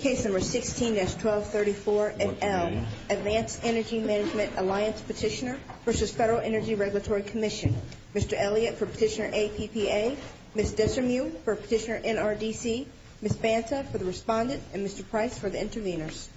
Case No. 16-1234-NL Advanced Energy Management Alliance Petitioner v. FEDERAL ENERGY REGULATORY COMMISSION Mr. Elliott for Petitioner APPA Ms. Desirmieu for Petitioner NRDC Ms. Banta for the Respondent and Mr. Price for the Intervenors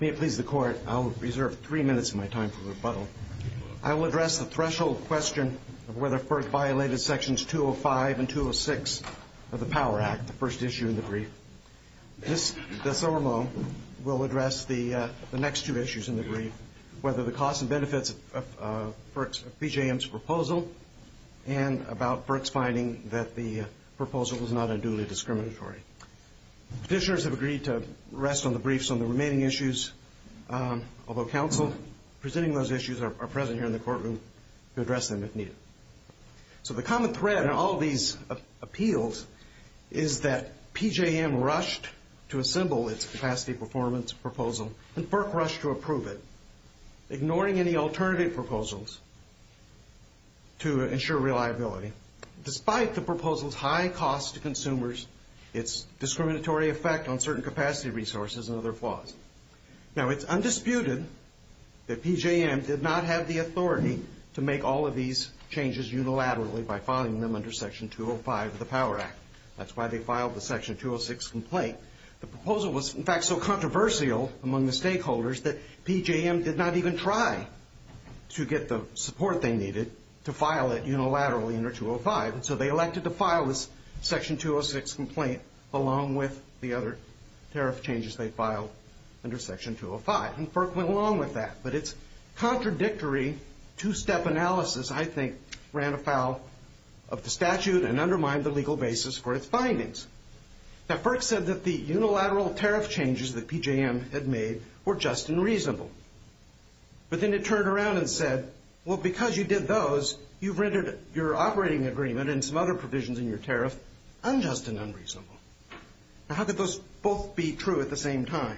May it please the Court, I will reserve three minutes of my time for rebuttal. I will address the threshold question of whether FERC violated Sections 205 and 206 of the Power Act, the first issue in the brief. Ms. Desirmieu will address the next two issues in the brief, whether the costs and benefits of PJM's proposal and about FERC's finding that the proposal was not unduly discriminatory. Petitioners have agreed to rest on the briefs on the remaining issues, although counsel presenting those issues are present here in the courtroom to address them if needed. So the common thread in all these appeals is that PJM rushed to assemble its capacity performance proposal and FERC rushed to approve it, ignoring any alternative proposals to ensure reliability, despite the proposal's high cost to consumers, its discriminatory effect on certain capacity resources and other flaws. Now, it's undisputed that PJM did not have the authority to make all of these changes unilaterally by filing them under Section 205 of the Power Act. That's why they filed the Section 206 complaint. The proposal was, in fact, so controversial among the stakeholders that PJM did not even try to get the support they needed to file it unilaterally under 205, and so they elected to file this Section 206 complaint along with the other tariff changes they filed under Section 205. And FERC went along with that, but its contradictory two-step analysis, I think, ran afoul of the statute and undermined the legal basis for its findings. Now, FERC said that the unilateral tariff changes that PJM had made were just and reasonable. But then it turned around and said, well, because you did those, you've rendered your operating agreement and some other provisions in your tariff unjust and unreasonable. Now, how could those both be true at the same time?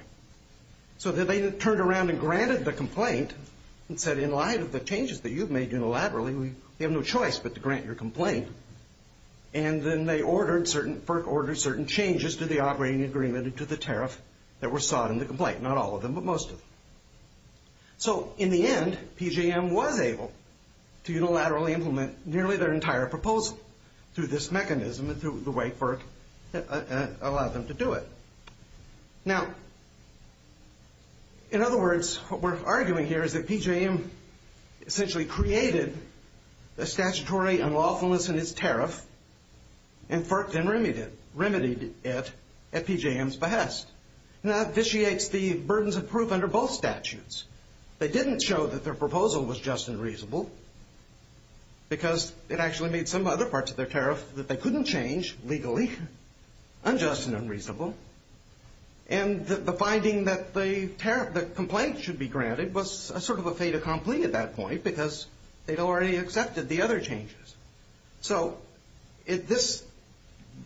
So then they turned around and granted the complaint and said, in light of the changes that you've made unilaterally, we have no choice but to grant your complaint. And then FERC ordered certain changes to the operating agreement and to the tariff that were sought in the complaint, not all of them, but most of them. So in the end, PJM was able to unilaterally implement nearly their entire proposal through this mechanism and through the way FERC allowed them to do it. Now, in other words, what we're arguing here is that PJM essentially created the statutory unlawfulness in its tariff and FERC then remedied it at PJM's behest. Now, that vitiates the burdens of proof under both statutes. They didn't show that their proposal was just and reasonable because it actually made some other parts of their tariff that they couldn't change legally unjust and unreasonable. And the finding that the complaint should be granted was sort of a fait accompli at that point because they'd already accepted the other changes. So this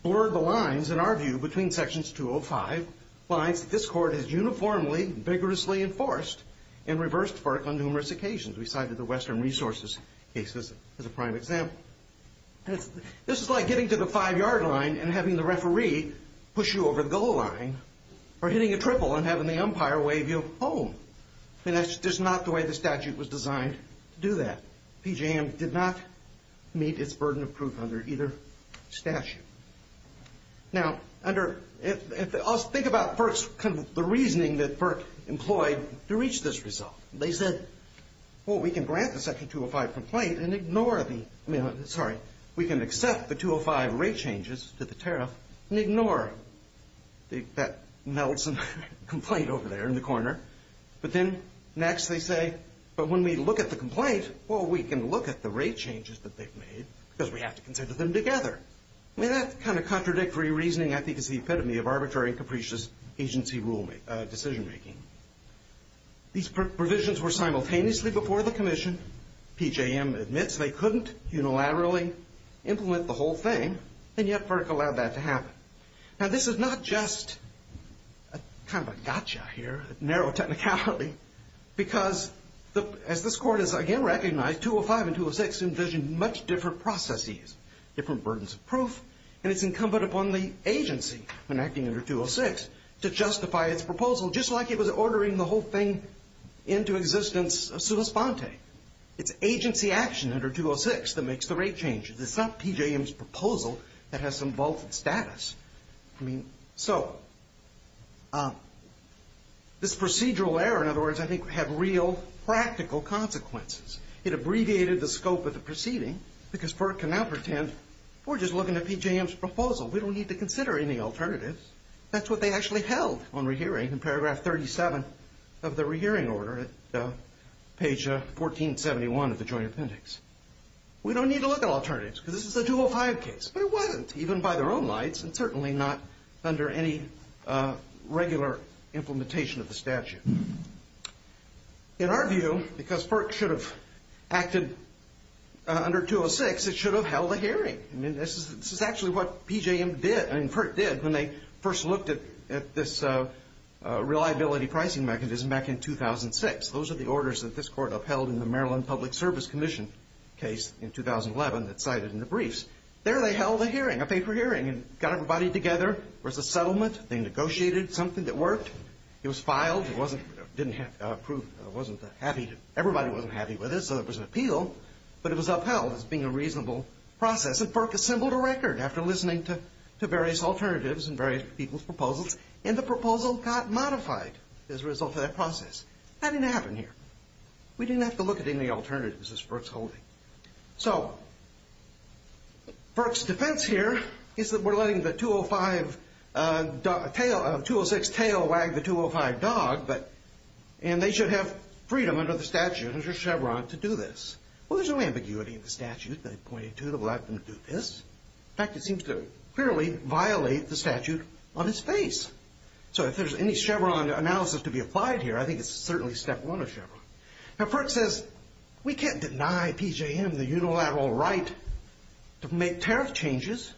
blurred the lines, in our view, between sections 205, lines that this court has uniformly vigorously enforced and reversed FERC on numerous occasions. We cited the Western Resources cases as a prime example. This is like getting to the five-yard line and having the referee push you over the goal line or hitting a triple and having the umpire wave you home. That's just not the way the statute was designed to do that. PJM did not meet its burden of proof under either statute. Now, think about the reasoning that FERC employed to reach this result. They said, well, we can grant the section 205 complaint and ignore the, sorry, we can accept the 205 rate changes to the tariff and ignore that Nelson complaint over there in the corner. But then next they say, but when we look at the complaint, well, we can look at the rate changes that they've made because we have to consider them together. I mean, that kind of contradictory reasoning, I think, is the epitome of arbitrary and capricious agency decision-making. These provisions were simultaneously before the commission. PJM admits they couldn't unilaterally implement the whole thing, and yet FERC allowed that to happen. Now, this is not just kind of a gotcha here, a narrow technicality, because as this court has again recognized, 205 and 206 envision much different processes, different burdens of proof, and it's incumbent upon the agency when acting under 206 to justify its proposal, just like it was ordering the whole thing into existence of substanti. It's agency action under 206 that makes the rate changes. It's not PJM's proposal that has some vaulted status. I mean, so this procedural error, in other words, I think, had real practical consequences. It abbreviated the scope of the proceeding because FERC can now pretend we're just looking at PJM's proposal. We don't need to consider any alternatives. That's what they actually held on rehearing in paragraph 37 of the rehearing order at page 1471 of the Joint Appendix. We don't need to look at alternatives because this is a 205 case, but it wasn't even by their own lights and certainly not under any regular implementation of the statute. In our view, because FERC should have acted under 206, it should have held a hearing. I mean, this is actually what PJM did, I mean, FERC did, when they first looked at this reliability pricing mechanism back in 2006. Those are the orders that this Court upheld in the Maryland Public Service Commission case in 2011 that's cited in the briefs. There they held a hearing, a paper hearing, and got everybody together. It was a settlement. They negotiated something that worked. It was filed. It wasn't approved. It wasn't happy. Everybody wasn't happy with it, so there was an appeal, but it was upheld as being a reasonable process, and FERC assembled a record after listening to various alternatives and various people's proposals, and the proposal got modified as a result of that process. That didn't happen here. We didn't have to look at any alternatives as FERC's holding. So FERC's defense here is that we're letting the 206 tail wag the 205 dog, and they should have freedom under the statute, under Chevron, to do this. Well, there's no ambiguity in the statute. They pointed to it and allowed them to do this. In fact, it seems to clearly violate the statute on its face. So if there's any Chevron analysis to be applied here, I think it's certainly step one of Chevron. Now, FERC says we can't deny PJM the unilateral right to make tariff changes,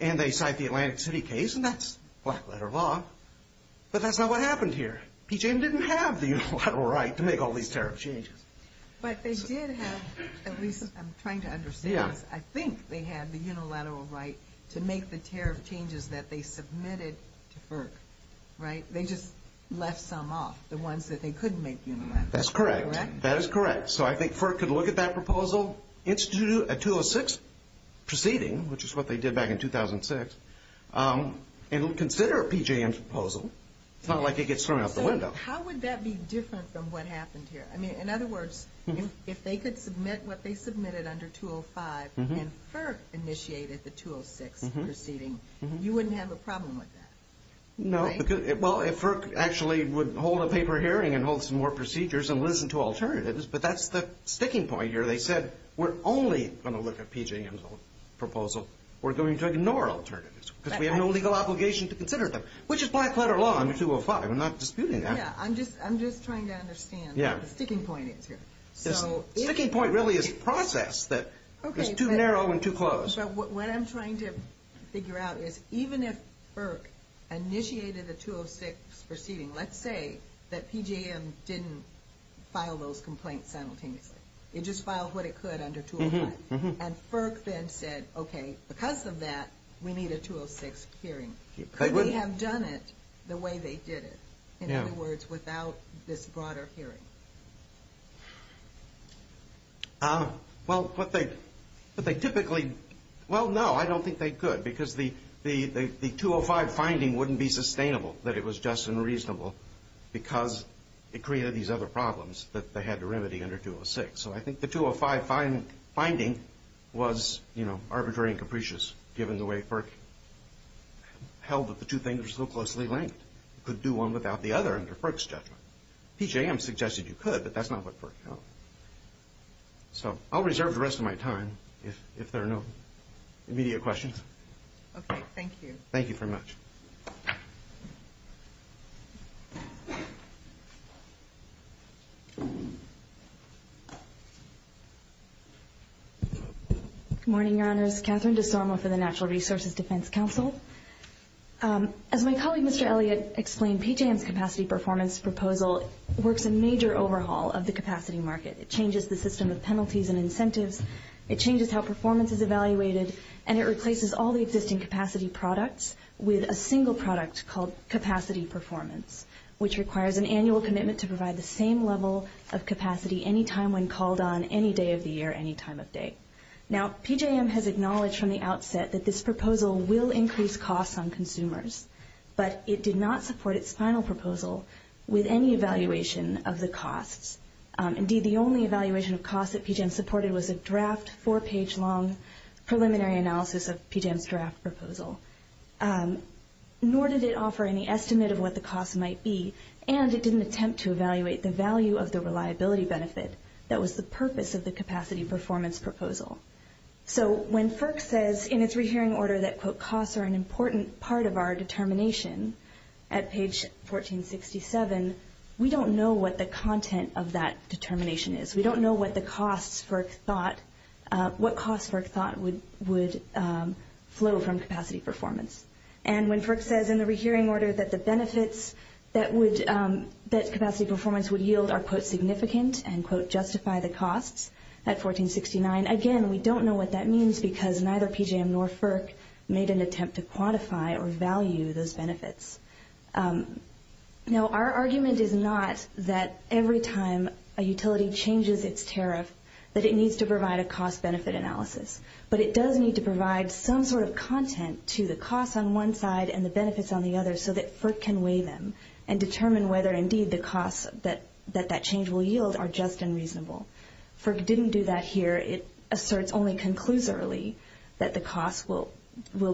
and they cite the Atlantic City case, and that's black letter law, but that's not what happened here. PJM didn't have the unilateral right to make all these tariff changes. But they did have, at least I'm trying to understand this, but I think they had the unilateral right to make the tariff changes that they submitted to FERC, right? They just left some off, the ones that they couldn't make unilaterally. That's correct. That is correct. So I think FERC could look at that proposal, institute a 206 proceeding, which is what they did back in 2006, and consider a PJM proposal. It's not like it gets thrown out the window. So how would that be different from what happened here? I mean, in other words, if they could submit what they submitted under 205, and FERC initiated the 206 proceeding, you wouldn't have a problem with that, right? No, because, well, if FERC actually would hold a paper hearing and hold some more procedures and listen to alternatives, but that's the sticking point here. They said we're only going to look at PJM's proposal. We're going to ignore alternatives because we have no legal obligation to consider them, which is black letter law under 205. We're not disputing that. I'm just trying to understand what the sticking point is here. The sticking point really is process. It's too narrow and too close. What I'm trying to figure out is even if FERC initiated a 206 proceeding, let's say that PJM didn't file those complaints simultaneously. It just filed what it could under 205. And FERC then said, okay, because of that we need a 206 hearing. Could they have done it the way they did it? In other words, without this broader hearing. Well, but they typically, well, no, I don't think they could because the 205 finding wouldn't be sustainable that it was just unreasonable because it created these other problems that they had to remedy under 206. So I think the 205 finding was arbitrary and capricious given the way FERC held that the two things were so closely linked. You could do one without the other under FERC's judgment. PJM suggested you could, but that's not what FERC held. So I'll reserve the rest of my time if there are no immediate questions. Okay, thank you. Thank you very much. Good morning, Your Honors. Catherine DeSorma for the Natural Resources Defense Council. As my colleague, Mr. Elliott, explained, PJM's capacity performance proposal works a major overhaul of the capacity market. It changes the system of penalties and incentives. It changes how performance is evaluated. And it replaces all the existing capacity products with a single product called capacity performance, which requires an annual commitment to provide the same level of capacity any time when called on, any day of the year, any time of day. Now, PJM has acknowledged from the outset that this proposal will increase costs on consumers, but it did not support its final proposal with any evaluation of the costs. Indeed, the only evaluation of costs that PJM supported was a draft four-page long preliminary analysis of PJM's draft proposal. Nor did it offer any estimate of what the costs might be, and it didn't attempt to evaluate the value of the reliability benefit. That was the purpose of the capacity performance proposal. So when FERC says in its rehearing order that, quote, costs are an important part of our determination at page 1467, we don't know what the content of that determination is. We don't know what the costs FERC thought would flow from capacity performance. And when FERC says in the rehearing order that the benefits that capacity performance would yield are, quote, significant and, quote, justify the costs at 1469, again, we don't know what that means because neither PJM nor FERC made an attempt to quantify or value those benefits. Now, our argument is not that every time a utility changes its tariff that it needs to provide a cost-benefit analysis, but it does need to provide some sort of content to the costs on one side and the benefits on the other so that FERC can weigh them and determine whether, indeed, the costs that that change will yield are just and reasonable. FERC didn't do that here. It asserts only conclusorily that the costs will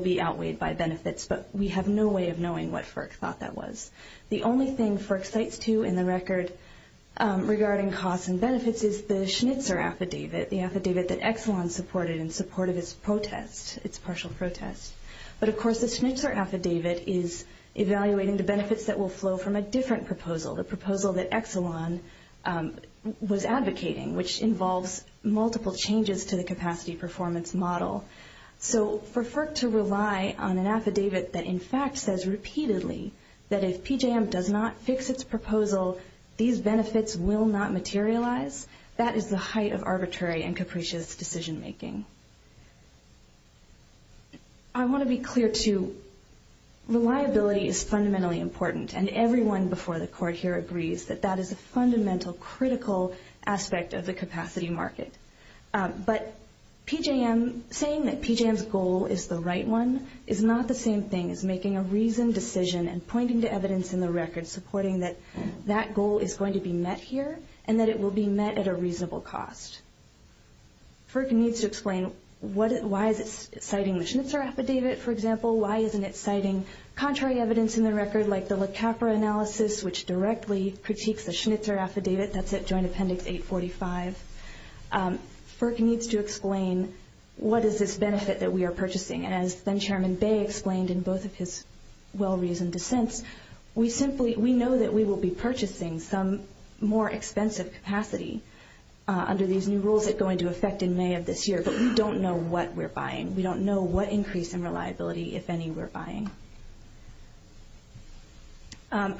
be outweighed by benefits, but we have no way of knowing what FERC thought that was. The only thing FERC cites, too, in the record regarding costs and benefits is the Schnitzer affidavit, the affidavit that Exelon supported in support of its protest, its partial protest. But, of course, the Schnitzer affidavit is evaluating the benefits that will flow from a different proposal, the proposal that Exelon was advocating, which involves multiple changes to the capacity performance model. So for FERC to rely on an affidavit that, in fact, says repeatedly that if PJM does not fix its proposal, these benefits will not materialize, that is the height of arbitrary and capricious decision-making. I want to be clear, too. Reliability is fundamentally important, and everyone before the Court here agrees that that is a fundamental critical aspect of the capacity market. But PJM saying that PJM's goal is the right one is not the same thing as making a reasoned decision and pointing to evidence in the record supporting that that goal is going to be met here and that it will be met at a reasonable cost. FERC needs to explain why is it citing the Schnitzer affidavit, for example, why isn't it citing contrary evidence in the record like the LaCapra analysis, which directly critiques the Schnitzer affidavit. That's at Joint Appendix 845. FERC needs to explain what is this benefit that we are purchasing. As then-Chairman Bay explained in both of his well-reasoned dissents, we simply know that we will be purchasing some more expensive capacity under these new rules that go into effect in May of this year, but we don't know what we're buying.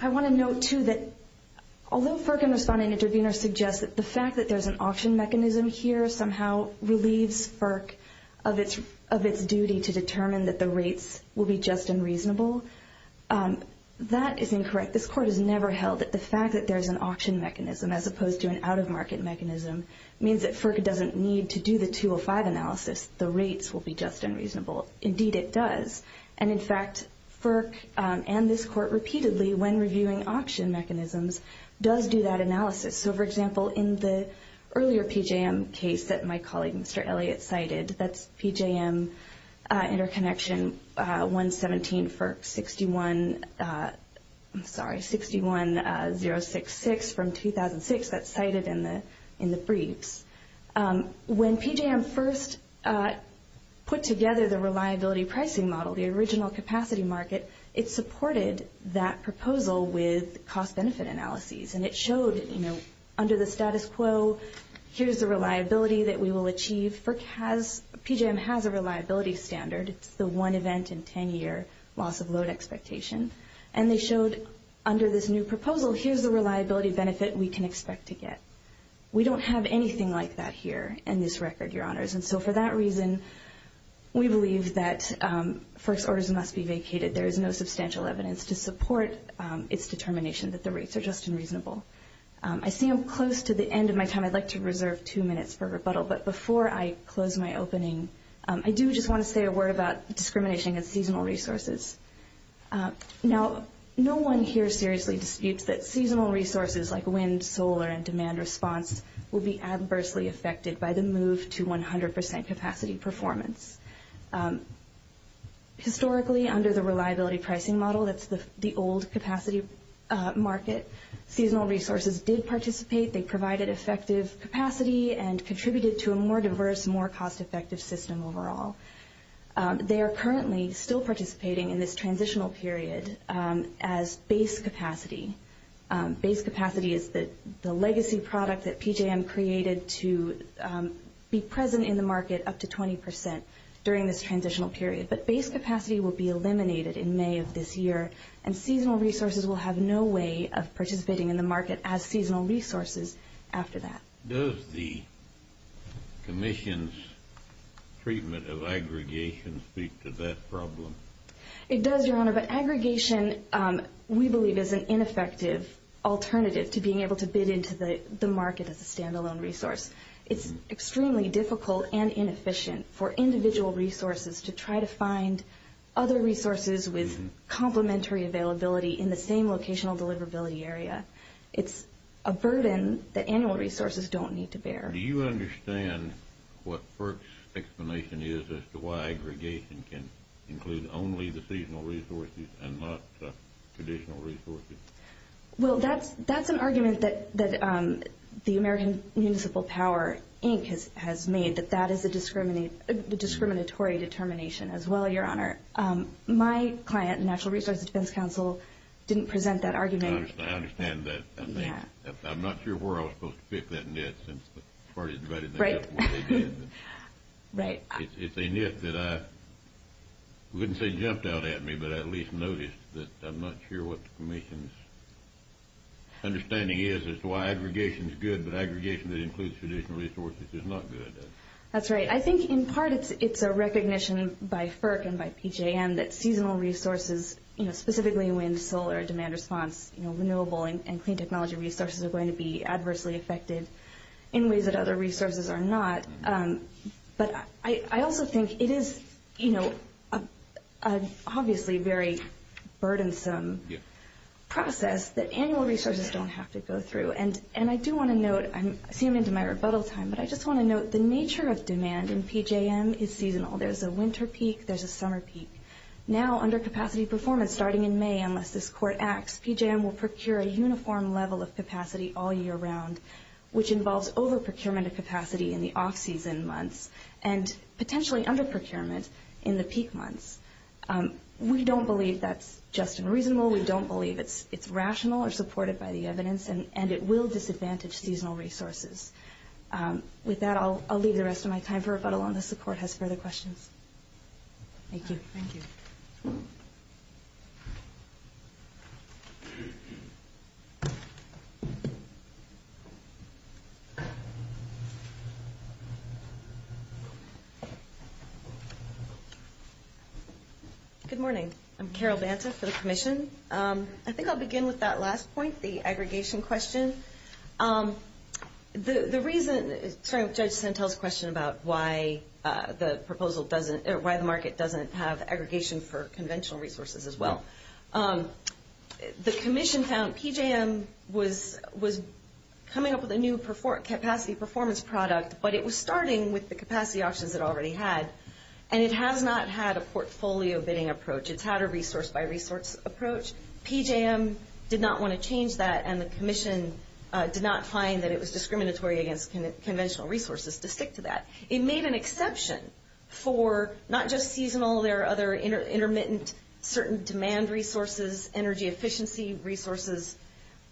I want to note, too, that although FERC and respondent-intervenors suggest that the fact that there's an auction mechanism here somehow relieves FERC of its duty to determine that the rates will be just and reasonable, that is incorrect. This Court has never held that the fact that there's an auction mechanism as opposed to an out-of-market mechanism means that FERC doesn't need to do the 205 analysis. The rates will be just and reasonable. Indeed, it does. And, in fact, FERC and this Court repeatedly, when reviewing auction mechanisms, does do that analysis. So, for example, in the earlier PJM case that my colleague Mr. Elliott cited, that's PJM Interconnection 117, FERC 61066 from 2006 that's cited in the briefs. When PJM first put together the reliability pricing model, the original capacity market, it supported that proposal with cost-benefit analyses, and it showed under the status quo, here's the reliability that we will achieve. PJM has a reliability standard. It's the one event in 10-year loss-of-load expectation. And they showed under this new proposal, here's the reliability benefit we can expect to get. We don't have anything like that here in this record, Your Honors. And so for that reason, we believe that FERC's orders must be vacated. There is no substantial evidence to support its determination that the rates are just and reasonable. I see I'm close to the end of my time. I'd like to reserve two minutes for rebuttal. But before I close my opening, I do just want to say a word about discrimination against seasonal resources. Now, no one here seriously disputes that seasonal resources like wind, solar, and demand response will be adversely affected by the move to 100% capacity performance. Historically, under the reliability pricing model, that's the old capacity market, seasonal resources did participate. They provided effective capacity and contributed to a more diverse, more cost-effective system overall. They are currently still participating in this transitional period as base capacity. Base capacity is the legacy product that PJM created to be present in the market up to 20% during this transitional period. But base capacity will be eliminated in May of this year, and seasonal resources will have no way of participating in the market as seasonal resources after that. Does the Commission's treatment of aggregation speak to that problem? It does, Your Honor. But aggregation, we believe, is an ineffective alternative to being able to bid into the market as a stand-alone resource. It's extremely difficult and inefficient for individual resources to try to find other resources with complementary availability in the same locational deliverability area. It's a burden that annual resources don't need to bear. Do you understand what FERC's explanation is as to why aggregation can include only the seasonal resources and not the traditional resources? Well, that's an argument that the American Municipal Power Inc. has made, that that is a discriminatory determination as well, Your Honor. My client, Natural Resources Defense Council, didn't present that argument. I understand that. Yeah. I'm not sure where I was supposed to pick that net since the party divided that up the way they did. Right. It's a net that I wouldn't say jumped out at me, but I at least noticed that I'm not sure what the Commission's understanding is as to why aggregation is good, but aggregation that includes traditional resources is not good. That's right. I think in part it's a recognition by FERC and by PJM that seasonal resources, specifically wind, solar, demand response, renewable and clean technology resources are going to be adversely affected in ways that other resources are not. But I also think it is obviously a very burdensome process that annual resources don't have to go through. And I do want to note, I'm seeming to my rebuttal time, but I just want to note the nature of demand in PJM is seasonal. There's a winter peak. There's a summer peak. Now under capacity performance starting in May, unless this court acts, PJM will procure a uniform level of capacity all year round, which involves over procurement of capacity in the off-season months and potentially under procurement in the peak months. We don't believe that's just and reasonable. We don't believe it's rational or supported by the evidence, and it will disadvantage seasonal resources. With that, I'll leave the rest of my time for rebuttal unless the court has further questions. Thank you. Good morning. I'm Carol Banta for the commission. I think I'll begin with that last point, the aggregation question. The reason, starting with Judge Santel's question about why the market doesn't have aggregation for conventional resources as well. The commission found PJM was coming up with a new capacity performance product, but it was starting with the capacity options it already had, and it has not had a portfolio bidding approach. It's had a resource-by-resource approach. PJM did not want to change that, and the commission did not find that it was discriminatory against conventional resources to stick to that. It made an exception for not just seasonal. There are other intermittent certain demand resources, energy efficiency resources.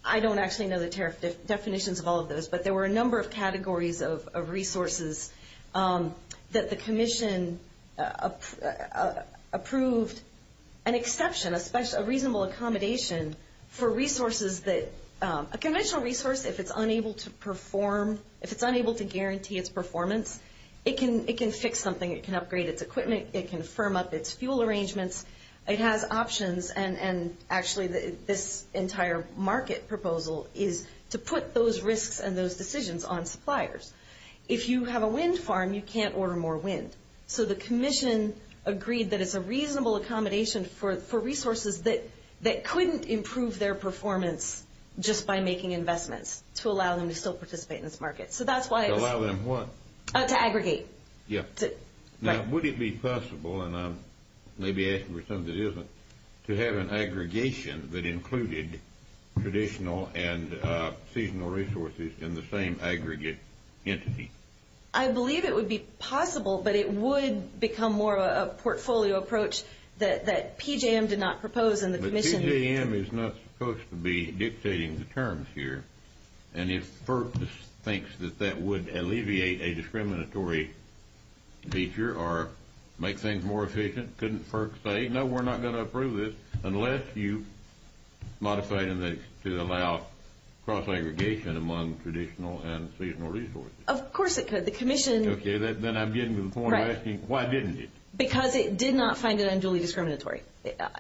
I don't actually know the definitions of all of those, but there were a number of categories of resources that the commission approved. An exception, a reasonable accommodation for resources that a conventional resource, if it's unable to perform, if it's unable to guarantee its performance, it can fix something. It can upgrade its equipment. It can firm up its fuel arrangements. It has options, and actually this entire market proposal is to put those risks and those decisions on suppliers. If you have a wind farm, you can't order more wind. So the commission agreed that it's a reasonable accommodation for resources that couldn't improve their performance just by making investments to allow them to still participate in this market. So that's why it was- To allow them what? To aggregate. Yeah. Now, would it be possible, and I'm maybe asking for something that isn't, to have an aggregation that included traditional and seasonal resources in the same aggregate entity? I believe it would be possible, but it would become more of a portfolio approach that PJM did not propose and the commission- But PJM is not supposed to be dictating the terms here, and if FERC thinks that that would alleviate a discriminatory feature or make things more efficient, couldn't FERC say, no, we're not going to approve this unless you modify it to allow cross-aggregation among traditional and seasonal resources? Of course it could. The commission- Okay, then I'm getting to the point of asking, why didn't it? Because it did not find it unduly discriminatory.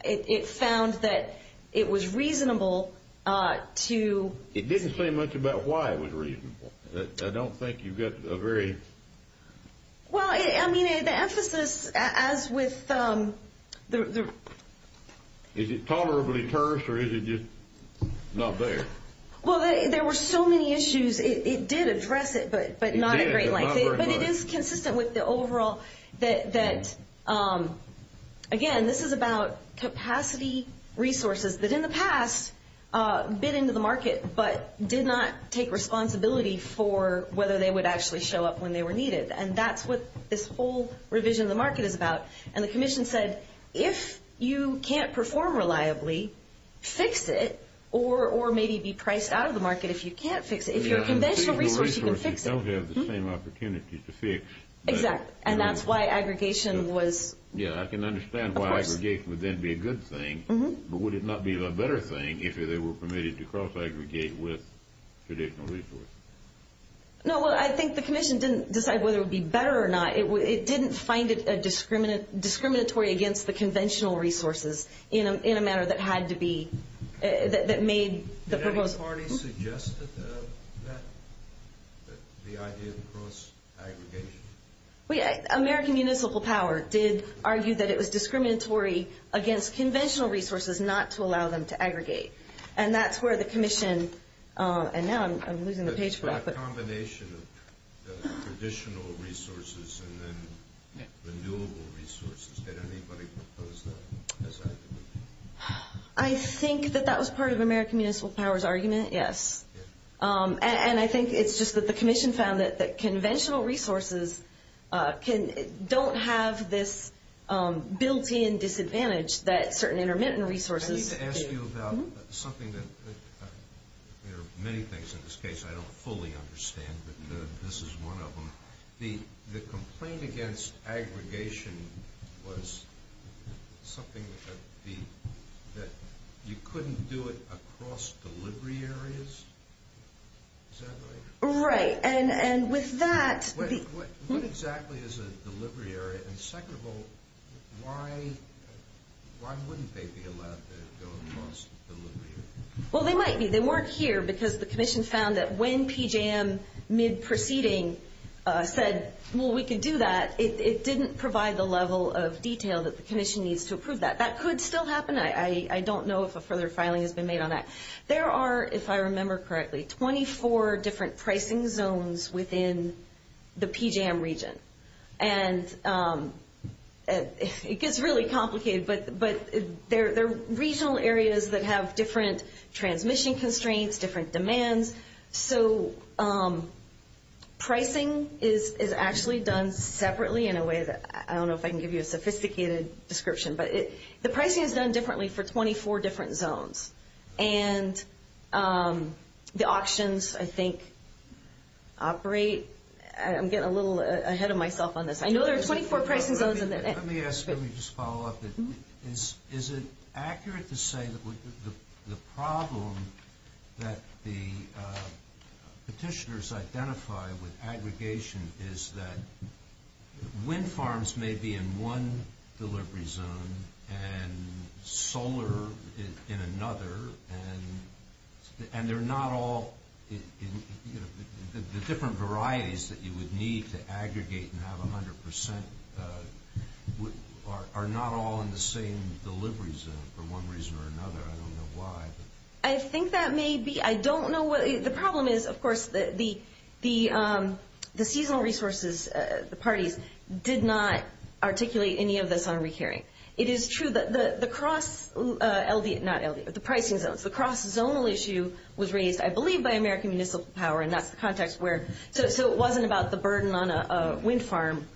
It found that it was reasonable to- It didn't say much about why it was reasonable. I don't think you got a very- Well, I mean, the emphasis, as with the- Is it tolerably terse, or is it just not there? Well, there were so many issues. It did address it, but not in great length. But it is consistent with the overall- Again, this is about capacity resources that in the past bid into the market but did not take responsibility for whether they would actually show up when they were needed, and that's what this whole revision of the market is about. And the commission said, if you can't perform reliably, fix it, or maybe be priced out of the market if you can't fix it. If you're a conventional resource, you can fix it. Traditional resources don't have the same opportunities to fix. Exactly, and that's why aggregation was- Yeah, I can understand why aggregation would then be a good thing, but would it not be a better thing if they were permitted to cross-aggregate with traditional resources? No, I think the commission didn't decide whether it would be better or not. It didn't find it discriminatory against the conventional resources in a manner that had to be- Did any party suggest the idea of cross-aggregation? Well, yeah, American Municipal Power did argue that it was discriminatory against conventional resources not to allow them to aggregate, and that's where the commission- And now I'm losing the page for that, but- But a combination of traditional resources and then renewable resources, did anybody propose that as aggregation? I think that that was part of American Municipal Power's argument, yes. And I think it's just that the commission found that conventional resources don't have this built-in disadvantage that certain intermittent resources do. I need to ask you about something that- There are many things in this case, I don't fully understand, but this is one of them. The complaint against aggregation was something that you couldn't do it across delivery areas? Is that right? Right, and with that- What exactly is a delivery area? And second of all, why wouldn't they be allowed to go across delivery areas? Well, they might be. They weren't here because the commission found that when PJM, mid-proceeding, said, well, we could do that, it didn't provide the level of detail that the commission needs to approve that. That could still happen. I don't know if a further filing has been made on that. There are, if I remember correctly, 24 different pricing zones within the PJM region. And it gets really complicated, but they're regional areas that have different transmission constraints, different demands, so pricing is actually done separately in a way that- I don't know if I can give you a sophisticated description, but the pricing is done differently for 24 different zones. And the auctions, I think, operate- I'm getting a little ahead of myself on this. I know there are 24 pricing zones- Let me ask, let me just follow up. Is it accurate to say that the problem that the petitioners identify with aggregation is that wind farms may be in one delivery zone and solar in another, and they're not all- the different varieties that you would need to aggregate and have 100% are not all in the same delivery zone for one reason or another. I don't know why. I think that may be. I don't know what- the problem is, of course, the seasonal resources, the parties, did not articulate any of this on re-hearing. It is true that the cross- not LV, but the pricing zones. The cross-zonal issue was raised, I believe, by American Municipal Power, and that's the context where- so it wasn't about the burden on a wind farm.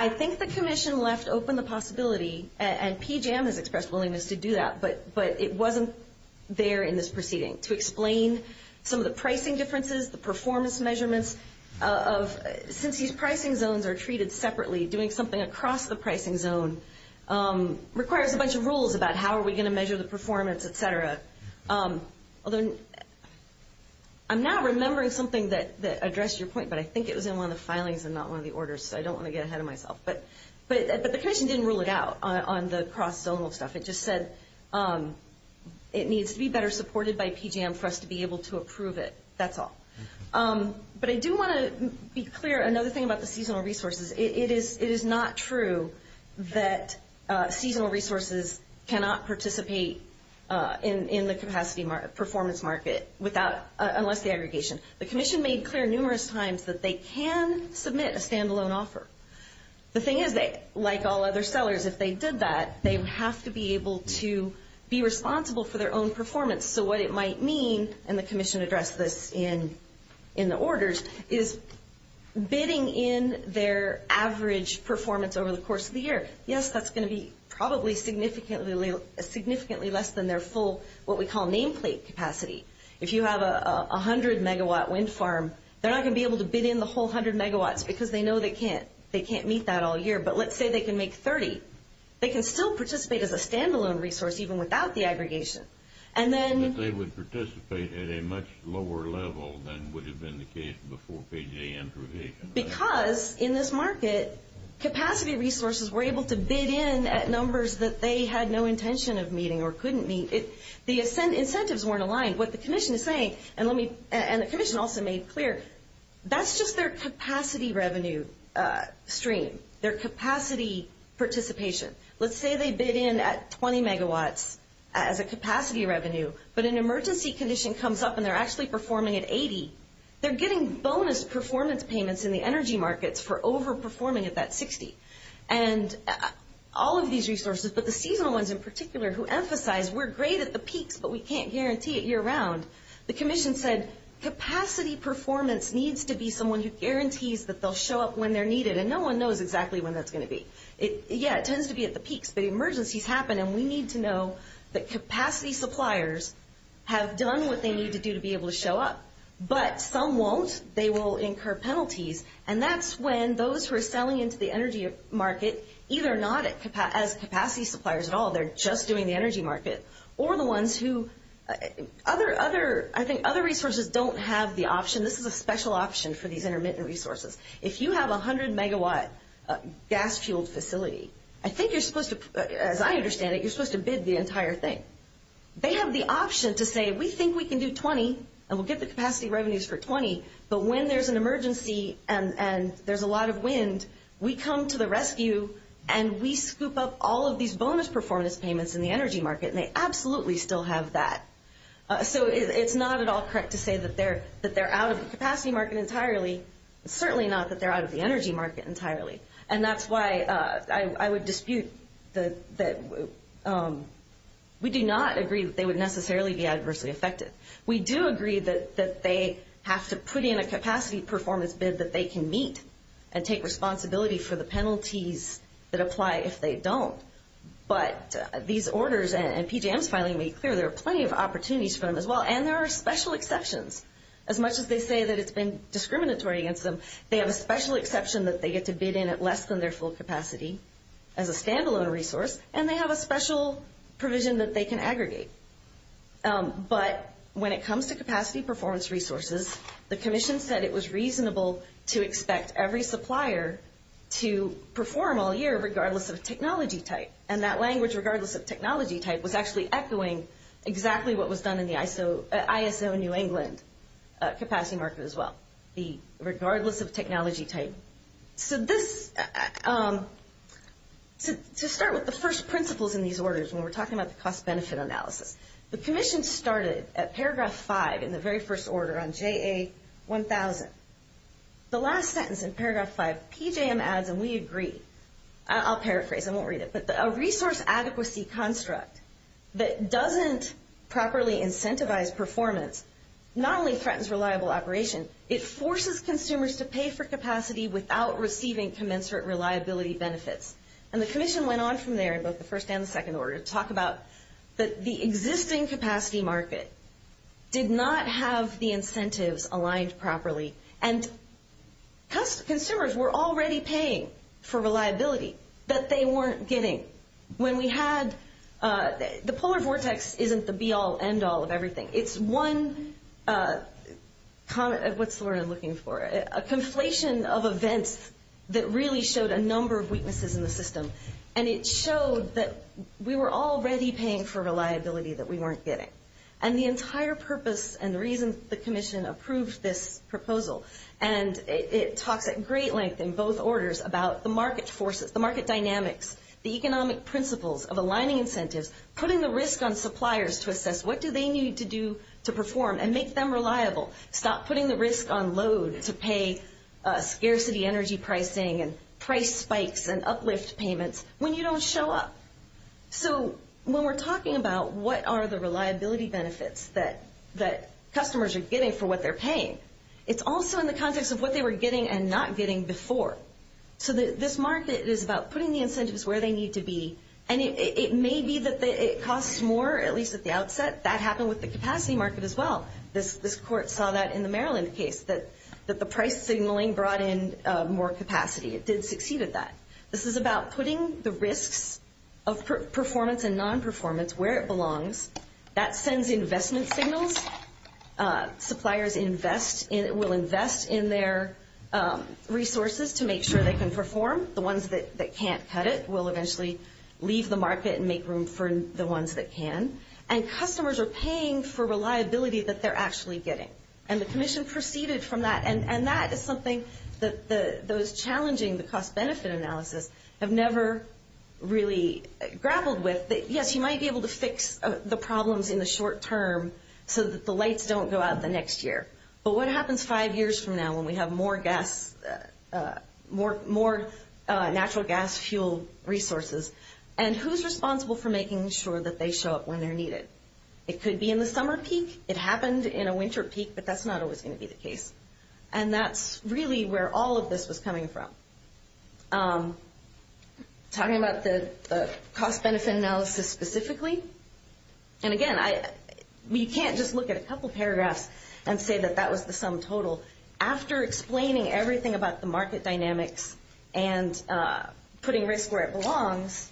I think the commission left open the possibility, and PJM has expressed willingness to do that, but it wasn't there in this proceeding to explain some of the pricing differences, the performance measurements of- since these pricing zones are treated separately, doing something across the pricing zone requires a bunch of rules about how are we going to measure the performance, et cetera. I'm now remembering something that addressed your point, but I think it was in one of the filings and not one of the orders, so I don't want to get ahead of myself. But the commission didn't rule it out on the cross-zonal stuff. It just said it needs to be better supported by PJM for us to be able to approve it. That's all. But I do want to be clear, another thing about the seasonal resources, it is not true that seasonal resources cannot participate in the performance market unless the aggregation. The commission made clear numerous times that they can submit a stand-alone offer. The thing is, like all other sellers, if they did that, they have to be able to be responsible for their own performance. So what it might mean, and the commission addressed this in the orders, is bidding in their average performance over the course of the year. Yes, that's going to be probably significantly less than their full, what we call nameplate capacity. If you have a 100-megawatt wind farm, they're not going to be able to bid in the whole 100 megawatts because they know they can't. They can't meet that all year. But let's say they can make 30. They can still participate as a stand-alone resource even without the aggregation. But they would participate at a much lower level than would have been the case before PJM provision. Because in this market, capacity resources were able to bid in at numbers that they had no intention of meeting or couldn't meet. The incentives weren't aligned. What the commission is saying, and the commission also made clear, that's just their capacity revenue stream, their capacity participation. Let's say they bid in at 20 megawatts as a capacity revenue, but an emergency condition comes up and they're actually performing at 80. They're getting bonus performance payments in the energy markets for overperforming at that 60. And all of these resources, but the seasonal ones in particular, who emphasize we're great at the peaks, but we can't guarantee it year-round. The commission said capacity performance needs to be someone who guarantees that they'll show up when they're needed. And no one knows exactly when that's going to be. Yeah, it tends to be at the peaks, but emergencies happen, and we need to know that capacity suppliers have done what they need to do to be able to show up. But some won't. They will incur penalties. And that's when those who are selling into the energy market, either not as capacity suppliers at all, they're just doing the energy market, or the ones who other resources don't have the option. This is a special option for these intermittent resources. If you have a 100-megawatt gas-fueled facility, I think you're supposed to, as I understand it, you're supposed to bid the entire thing. They have the option to say we think we can do 20 and we'll get the capacity revenues for 20, but when there's an emergency and there's a lot of wind, we come to the rescue and we scoop up all of these bonus performance payments in the energy market, and they absolutely still have that. So it's not at all correct to say that they're out of the capacity market entirely. It's certainly not that they're out of the energy market entirely, and that's why I would dispute that we do not agree that they would necessarily be adversely affected. We do agree that they have to put in a capacity performance bid that they can meet and take responsibility for the penalties that apply if they don't. But these orders and PJM's filing made clear there are plenty of opportunities for them as well, and there are special exceptions. As much as they say that it's been discriminatory against them, they have a special exception that they get to bid in at less than their full capacity as a standalone resource, and they have a special provision that they can aggregate. But when it comes to capacity performance resources, the commission said it was reasonable to expect every supplier to perform all year regardless of technology type, and that language, regardless of technology type, was actually echoing exactly what was done in the ISO New England capacity market as well, the regardless of technology type. So this, to start with the first principles in these orders when we're talking about the cost-benefit analysis, the commission started at paragraph 5 in the very first order on JA1000. The last sentence in paragraph 5, PJM adds, and we agree, I'll paraphrase, I won't read it, but a resource adequacy construct that doesn't properly incentivize performance not only threatens reliable operation, it forces consumers to pay for capacity without receiving commensurate reliability benefits. And the commission went on from there in both the first and the second order to talk about that the existing capacity market did not have the incentives aligned properly, and consumers were already paying for reliability that they weren't getting. When we had the polar vortex isn't the be-all, end-all of everything. It's one, what's the word I'm looking for, a conflation of events that really showed a number of weaknesses in the system, and it showed that we were already paying for reliability that we weren't getting. And the entire purpose and the reason the commission approved this proposal, and it talks at great length in both orders about the market forces, the market dynamics, the economic principles of aligning incentives, putting the risk on suppliers to assess what do they need to do to perform and make them reliable, stop putting the risk on load to pay scarcity energy pricing and price spikes and uplift payments when you don't show up. So when we're talking about what are the reliability benefits that customers are getting for what they're paying, it's also in the context of what they were getting and not getting before. So this market is about putting the incentives where they need to be, and it may be that it costs more, at least at the outset. That happened with the capacity market as well. This court saw that in the Maryland case, that the price signaling brought in more capacity. It did succeed at that. This is about putting the risks of performance and nonperformance where it belongs. That sends investment signals. Suppliers will invest in their resources to make sure they can perform. The ones that can't cut it will eventually leave the market and make room for the ones that can. And customers are paying for reliability that they're actually getting. And the commission proceeded from that, and that is something that those challenging the cost-benefit analysis have never really grappled with. Yes, you might be able to fix the problems in the short term so that the lights don't go out the next year, but what happens five years from now when we have more natural gas fuel resources? And who's responsible for making sure that they show up when they're needed? It could be in the summer peak. It happened in a winter peak, but that's not always going to be the case. And that's really where all of this was coming from. Talking about the cost-benefit analysis specifically, and again, you can't just look at a couple paragraphs and say that that was the sum total. After explaining everything about the market dynamics and putting risk where it belongs,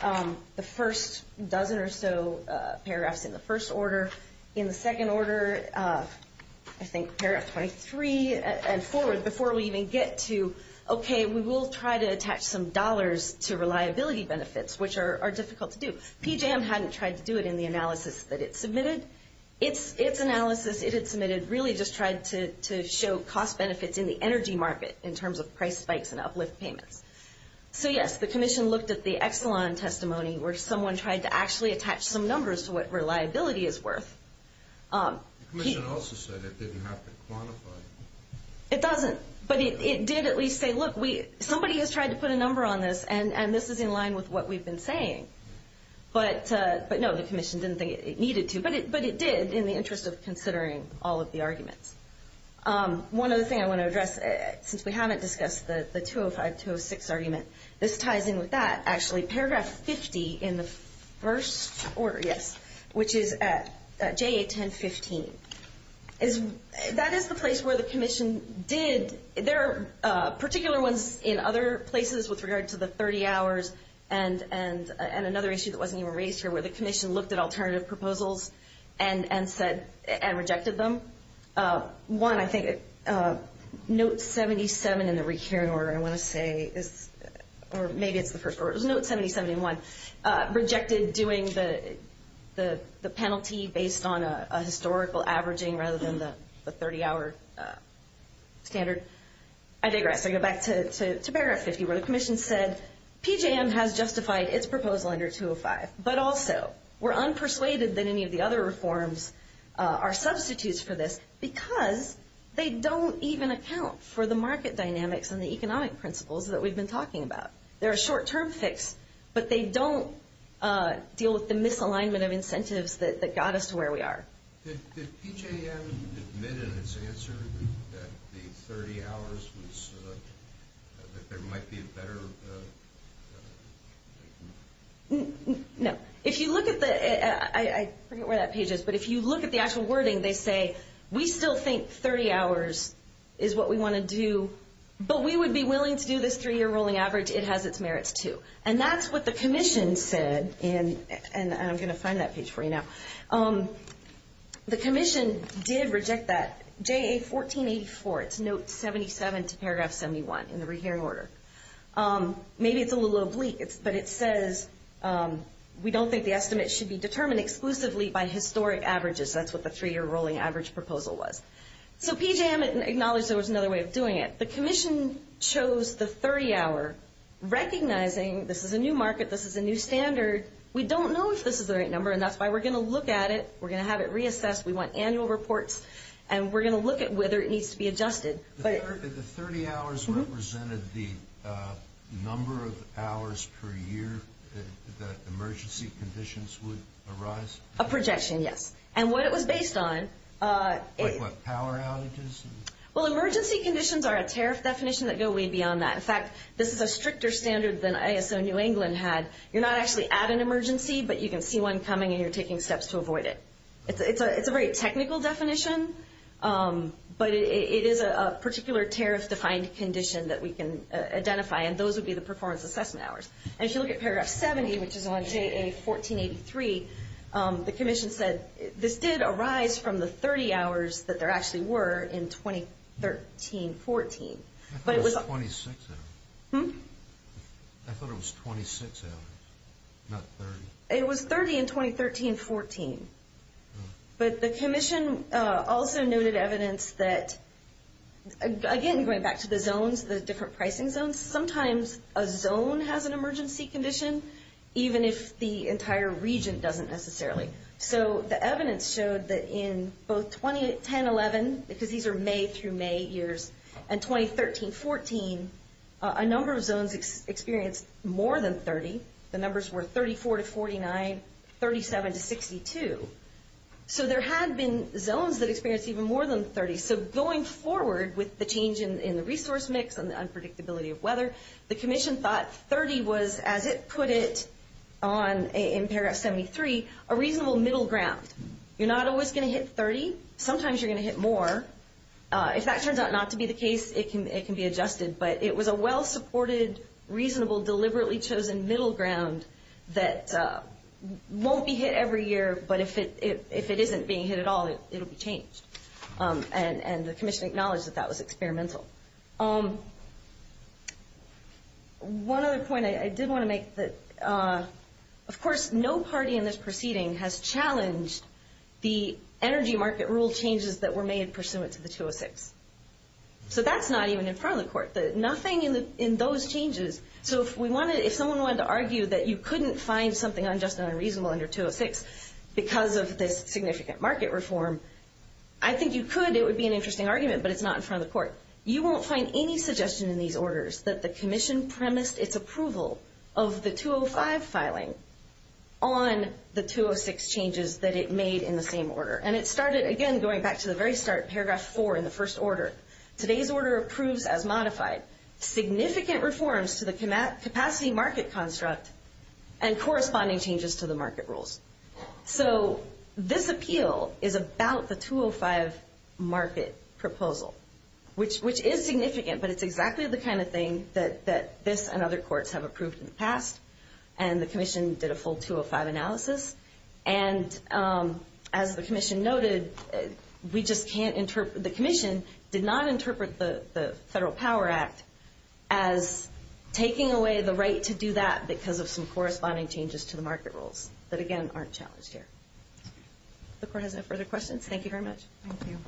the first dozen or so paragraphs in the first order. In the second order, I think paragraph 23 and forward, before we even get to, okay, we will try to attach some dollars to reliability benefits, which are difficult to do. PJM hadn't tried to do it in the analysis that it submitted. Its analysis it had submitted really just tried to show cost benefits in the energy market in terms of price spikes and uplift payments. So, yes, the commission looked at the Exelon testimony where someone tried to actually attach some numbers to what reliability is worth. The commission also said it didn't have to quantify. It doesn't, but it did at least say, look, somebody has tried to put a number on this, and this is in line with what we've been saying. But, no, the commission didn't think it needed to. But it did in the interest of considering all of the arguments. One other thing I want to address, since we haven't discussed the 205-206 argument, this ties in with that, actually. Paragraph 50 in the first order, yes, which is at JA-10-15. That is the place where the commission did, there are particular ones in other places with regard to the 30 hours and another issue that wasn't even raised here where the commission looked at alternative proposals and rejected them. One, I think, note 77 in the recurring order, I want to say, or maybe it's the first order. It was note 70-71, rejected doing the penalty based on a historical averaging rather than the 30-hour standard. I digress. I go back to paragraph 50 where the commission said PJM has justified its proposal under 205, but also we're unpersuaded that any of the other reforms are substitutes for this because they don't even account for the market dynamics and the economic principles that we've been talking about. They're a short-term fix, but they don't deal with the misalignment of incentives that got us to where we are. Did PJM admit in its answer that the 30 hours was, that there might be a better? No. If you look at the, I forget where that page is, but if you look at the actual wording, they say we still think 30 hours is what we want to do, but we would be willing to do this three-year rolling average. It has its merits too. And that's what the commission said, and I'm going to find that page for you now. The commission did reject that. JA 1484, it's note 77 to paragraph 71 in the rehearing order. Maybe it's a little oblique, but it says we don't think the estimate should be determined exclusively by historic averages. That's what the three-year rolling average proposal was. So PJM acknowledged there was another way of doing it. The commission chose the 30-hour, recognizing this is a new market, this is a new standard. We don't know if this is the right number, and that's why we're going to look at it. We're going to have it reassessed. We want annual reports, and we're going to look at whether it needs to be adjusted. The 30 hours represented the number of hours per year that emergency conditions would arise? A projection, yes. And what it was based on. Like what, power outages? Well, emergency conditions are a tariff definition that go way beyond that. In fact, this is a stricter standard than ISO New England had. You're not actually at an emergency, but you can see one coming, and you're taking steps to avoid it. It's a very technical definition, but it is a particular tariff-defined condition that we can identify, and those would be the performance assessment hours. And if you look at paragraph 70, which is on JA 1483, the commission said this did arise from the 30 hours that there actually were in 2013-14. I thought it was 26 hours. Hmm? I thought it was 26 hours, not 30. It was 30 in 2013-14. But the commission also noted evidence that, again, going back to the zones, the different pricing zones, sometimes a zone has an emergency condition, even if the entire region doesn't necessarily. So the evidence showed that in both 2010-11, because these are May through May years, and 2013-14, a number of zones experienced more than 30. The numbers were 34 to 49, 37 to 62. So there had been zones that experienced even more than 30. So going forward with the change in the resource mix and the unpredictability of weather, the commission thought 30 was, as it put it in paragraph 73, a reasonable middle ground. You're not always going to hit 30. Sometimes you're going to hit more. If that turns out not to be the case, it can be adjusted. But it was a well-supported, reasonable, deliberately chosen middle ground that won't be hit every year, but if it isn't being hit at all, it will be changed. And the commission acknowledged that that was experimental. One other point I did want to make. Of course, no party in this proceeding has challenged the energy market rule changes that were made pursuant to the 206. So that's not even in front of the court. Nothing in those changes. So if someone wanted to argue that you couldn't find something unjust and unreasonable under 206 because of this significant market reform, I think you could. It would be an interesting argument, but it's not in front of the court. You won't find any suggestion in these orders that the commission premised its approval of the 205 filing on the 206 changes that it made in the same order. And it started, again, going back to the very start, paragraph 4 in the first order. Today's order approves as modified significant reforms to the capacity market construct and corresponding changes to the market rules. So this appeal is about the 205 market proposal, which is significant, but it's exactly the kind of thing that this and other courts have approved in the past, and the commission did a full 205 analysis. And as the commission noted, the commission did not interpret the Federal Power Act as taking away the right to do that because of some corresponding changes to the market rules that, again, aren't challenged here. If the court has no further questions, thank you very much. Thank you.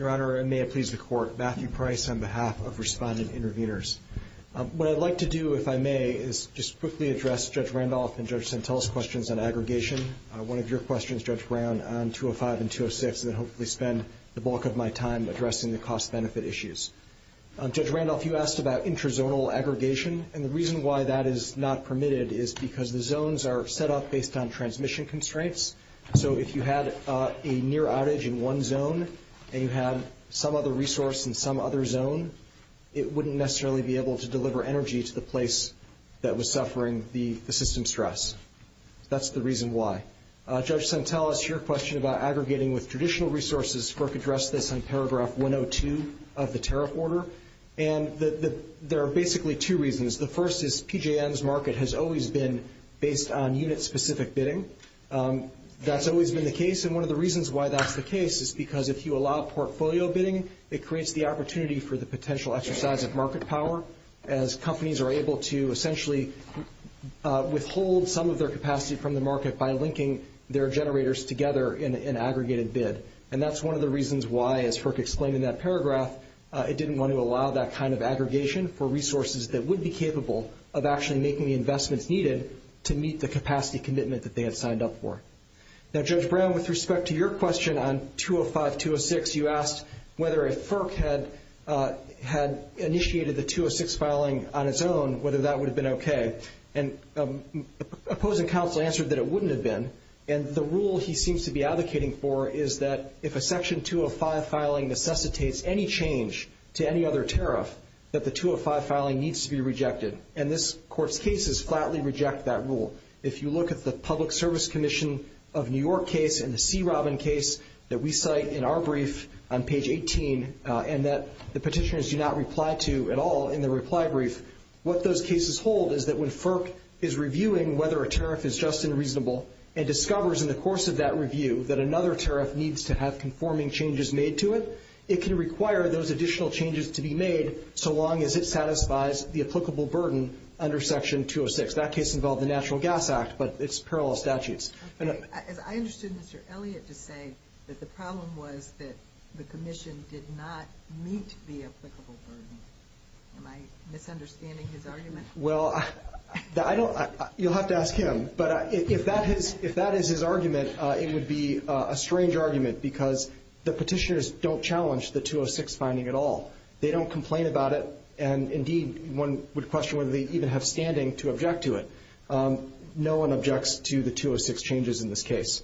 Your Honor, and may it please the court, Matthew Price on behalf of Respondent Interveners. What I'd like to do, if I may, is just quickly address Judge Randolph and Judge Santella's questions on aggregation. One of your questions, Judge Brown, on 205 and 206, and then hopefully spend the bulk of my time addressing the cost-benefit issues. Judge Randolph, you asked about intrazonal aggregation, and the reason why that is not permitted is because the zones are set up based on transmission constraints. So if you had a near outage in one zone and you had some other resource in some other zone, it wouldn't necessarily be able to deliver energy to the place that was suffering the system stress. That's the reason why. Judge Santella, to your question about aggregating with traditional resources, FERC addressed this in paragraph 102 of the tariff order. And there are basically two reasons. The first is PJM's market has always been based on unit-specific bidding. That's always been the case. And one of the reasons why that's the case is because if you allow portfolio bidding, it creates the opportunity for the potential exercise of market power as companies are able to essentially withhold some of their capacity from the market by linking their generators together in an aggregated bid. And that's one of the reasons why, as FERC explained in that paragraph, it didn't want to allow that kind of aggregation for resources that would be capable of actually making the investments needed to meet the capacity commitment that they had signed up for. Now, Judge Brown, with respect to your question on 205, 206, you asked whether if FERC had initiated the 206 filing on its own, whether that would have been okay. And opposing counsel answered that it wouldn't have been. And the rule he seems to be advocating for is that if a Section 205 filing necessitates any change to any other tariff, that the 205 filing needs to be rejected. And this Court's cases flatly reject that rule. If you look at the Public Service Commission of New York case and the C. Robin case that we cite in our brief on page 18, and that the petitioners do not reply to at all in the reply brief, what those cases hold is that when FERC is reviewing whether a tariff is just and reasonable and discovers in the course of that review that another tariff needs to have conforming changes made to it, it can require those additional changes to be made so long as it satisfies the applicable burden under Section 206. That case involved the Natural Gas Act, but it's parallel statutes. Okay. I understood Mr. Elliott to say that the problem was that the Commission did not meet the applicable burden. Am I misunderstanding his argument? Well, I don't – you'll have to ask him. But if that is his argument, it would be a strange argument because the petitioners don't challenge the 206 finding at all. They don't complain about it, and, indeed, one would question whether they even have standing to object to it. No one objects to the 206 changes in this case.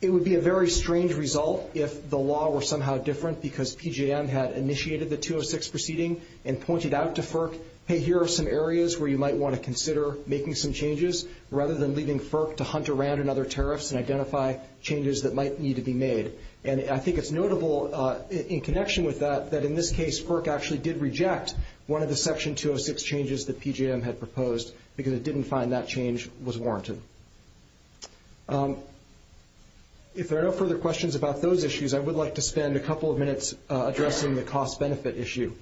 It would be a very strange result if the law were somehow different because PJM had initiated the 206 proceeding and pointed out to FERC, hey, here are some areas where you might want to consider making some changes rather than leaving FERC to hunt around in other tariffs and identify changes that might need to be made. And I think it's notable in connection with that that, in this case, FERC actually did reject one of the Section 206 changes that PJM had proposed because it didn't find that change was warranted. If there are no further questions about those issues, I would like to spend a couple of minutes addressing the cost-benefit issue.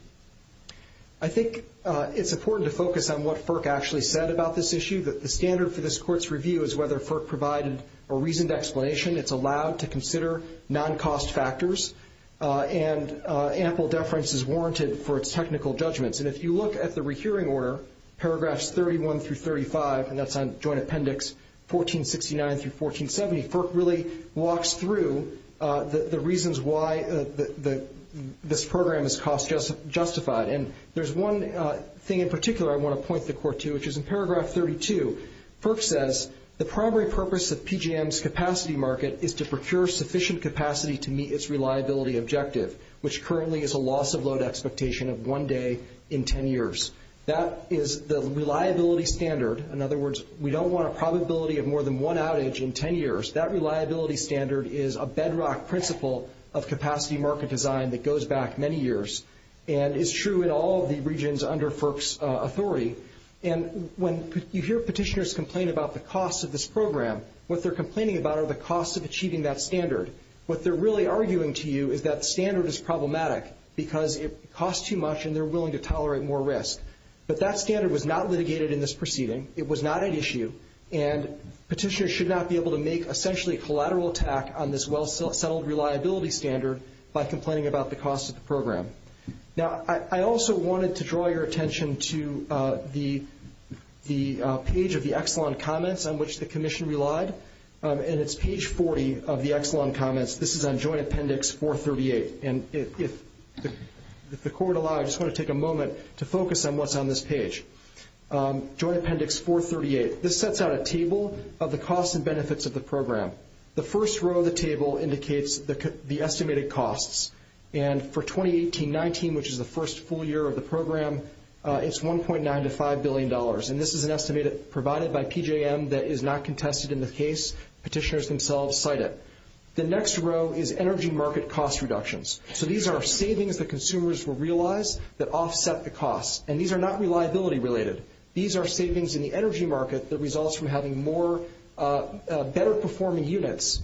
I think it's important to focus on what FERC actually said about this issue, that the standard for this Court's review is whether FERC provided a reasoned explanation. It's allowed to consider non-cost factors, and ample deference is warranted for its technical judgments. And if you look at the rehearing order, paragraphs 31 through 35, and that's on joint appendix 1469 through 1470, FERC really walks through the reasons why this program is cost-justified. And there's one thing in particular I want to point the Court to, which is in paragraph 32, FERC says the primary purpose of PJM's capacity market is to procure sufficient capacity to meet its reliability objective, which currently is a loss-of-load expectation of one day in 10 years. That is the reliability standard. In other words, we don't want a probability of more than one outage in 10 years. That reliability standard is a bedrock principle of capacity market design that goes back many years and is true in all of the regions under FERC's authority. And when you hear petitioners complain about the cost of this program, what they're complaining about are the costs of achieving that standard. What they're really arguing to you is that standard is problematic because it costs too much and they're willing to tolerate more risk. But that standard was not litigated in this proceeding. It was not at issue, and petitioners should not be able to make essentially a collateral attack on this well-settled reliability standard by complaining about the cost of the program. Now, I also wanted to draw your attention to the page of the Exelon comments on which the commission relied. And it's page 40 of the Exelon comments. This is on Joint Appendix 438. And if the Court allows, I just want to take a moment to focus on what's on this page. Joint Appendix 438. This sets out a table of the costs and benefits of the program. The first row of the table indicates the estimated costs. And for 2018-19, which is the first full year of the program, it's $1.9 to $5 billion. And this is an estimate provided by PJM that is not contested in the case. Petitioners themselves cite it. The next row is energy market cost reductions. So these are savings that consumers will realize that offset the costs. And these are not reliability-related. These are savings in the energy market that results from having better-performing units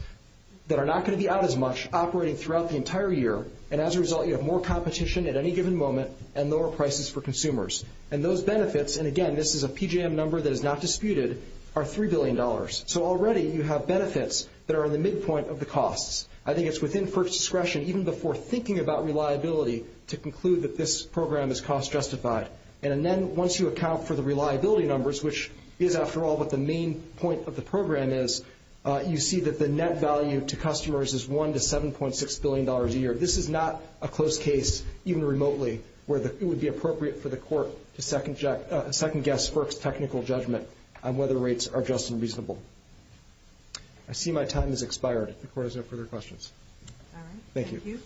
that are not going to be out as much operating throughout the entire year. And as a result, you have more competition at any given moment and lower prices for consumers. And those benefits, and again, this is a PJM number that is not disputed, are $3 billion. So already you have benefits that are in the midpoint of the costs. I think it's within First's discretion, even before thinking about reliability, to conclude that this program is cost-justified. And then once you account for the reliability numbers, which is, after all, what the main point of the program is, you see that the net value to customers is $1 to $7.6 billion a year. This is not a close case, even remotely, where it would be appropriate for the Court to second-guess FERC's technical judgment on whether rates are just and reasonable. I see my time has expired. If the Court has no further questions. Thank you. Thank you.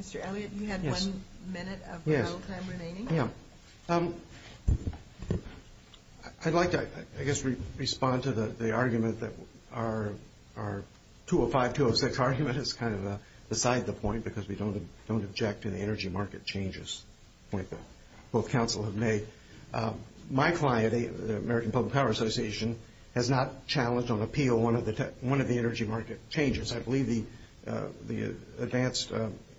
Mr. Elliott, you had one minute of trial time remaining. Yeah. I'd like to, I guess, respond to the argument that our 205-206 argument is kind of beside the point because we don't object to the energy market changes point that both counsel have made. My client, the American Public Power Association, has not challenged on appeal one of the energy market changes. I believe the Advanced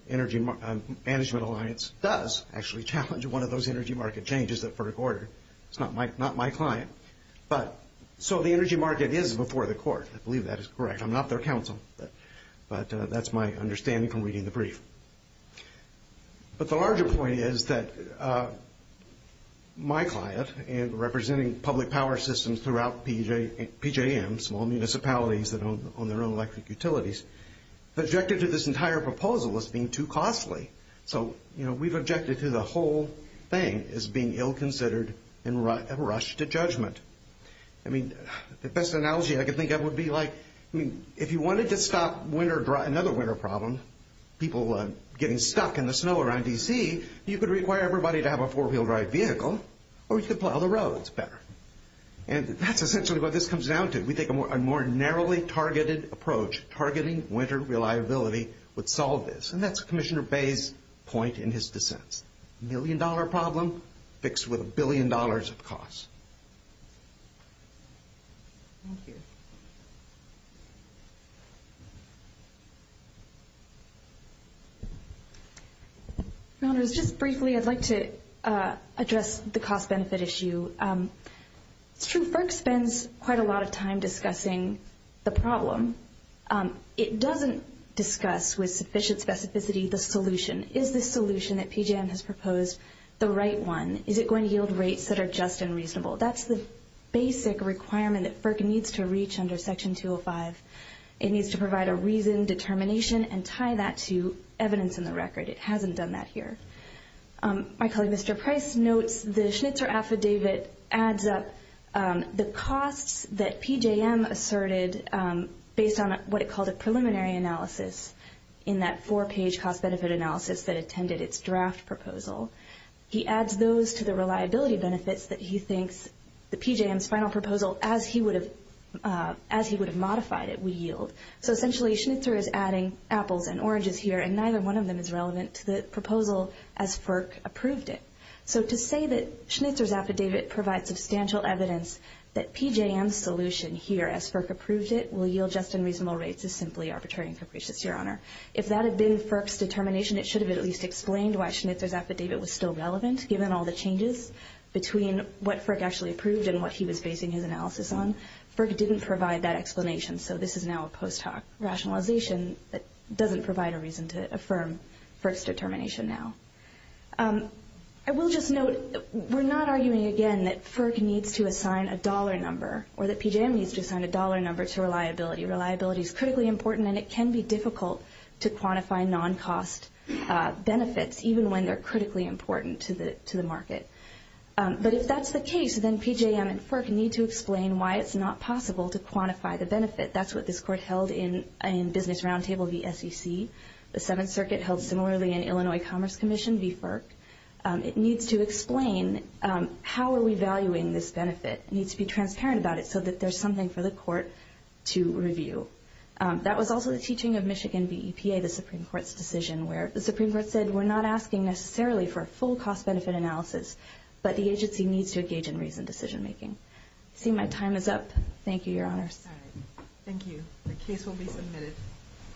Energy Management Alliance does actually challenge one of those energy market changes at FERC order. It's not my client. So the energy market is before the Court. I believe that is correct. I'm not their counsel, but that's my understanding from reading the brief. But the larger point is that my client, representing public power systems throughout PJM, small municipalities that own their own electric utilities, objected to this entire proposal as being too costly. So, you know, we've objected to the whole thing as being ill-considered and rushed to judgment. I mean, the best analogy I can think of would be like if you wanted to stop another winter problem, people getting stuck in the snow around DC, you could require everybody to have a four-wheel drive vehicle or you could plow the roads better. And that's essentially what this comes down to. We think a more narrowly targeted approach, targeting winter reliability, would solve this. And that's Commissioner Bay's point in his dissent. A million-dollar problem fixed with a billion dollars of cost. Thank you. Just briefly, I'd like to address the cost-benefit issue. It's true FERC spends quite a lot of time discussing the problem. It doesn't discuss with sufficient specificity the solution. Is the solution that PJM has proposed the right one? Is it going to yield rates that are just and reasonable? That's the basic requirement that FERC needs to reach under Section 205. It needs to provide a reason, determination, and tie that to evidence in the record. It hasn't done that here. My colleague, Mr. Price, notes the Schnitzer affidavit adds up the costs that PJM asserted based on what it called a preliminary analysis in that four-page cost-benefit analysis that attended its draft proposal. He adds those to the reliability benefits that he thinks the PJM's final proposal, as he would have modified it, would yield. So essentially, Schnitzer is adding apples and oranges here, and neither one of them is relevant to the proposal as FERC approved it. So to say that Schnitzer's affidavit provides substantial evidence that PJM's solution here, as FERC approved it, will yield just and reasonable rates is simply arbitrary and capricious, Your Honor. If that had been FERC's determination, it should have at least explained why Schnitzer's affidavit was still relevant, given all the changes between what FERC actually approved and what he was basing his analysis on. FERC didn't provide that explanation, so this is now a post hoc rationalization that doesn't provide a reason to affirm FERC's determination now. I will just note, we're not arguing again that FERC needs to assign a dollar number or that PJM needs to assign a dollar number to reliability. Reliability is critically important, and it can be difficult to quantify non-cost benefits, even when they're critically important to the market. But if that's the case, then PJM and FERC need to explain why it's not possible to quantify the benefit. That's what this Court held in Business Roundtable v. SEC. The Seventh Circuit held similarly in Illinois Commerce Commission v. FERC. It needs to explain how are we valuing this benefit. It needs to be transparent about it so that there's something for the Court to review. That was also the teaching of Michigan v. EPA, the Supreme Court's decision, where the Supreme Court said we're not asking necessarily for a full cost benefit analysis, but the agency needs to engage in reasoned decision making. I see my time is up. Thank you, Your Honors. All right. Thank you. The case will be submitted.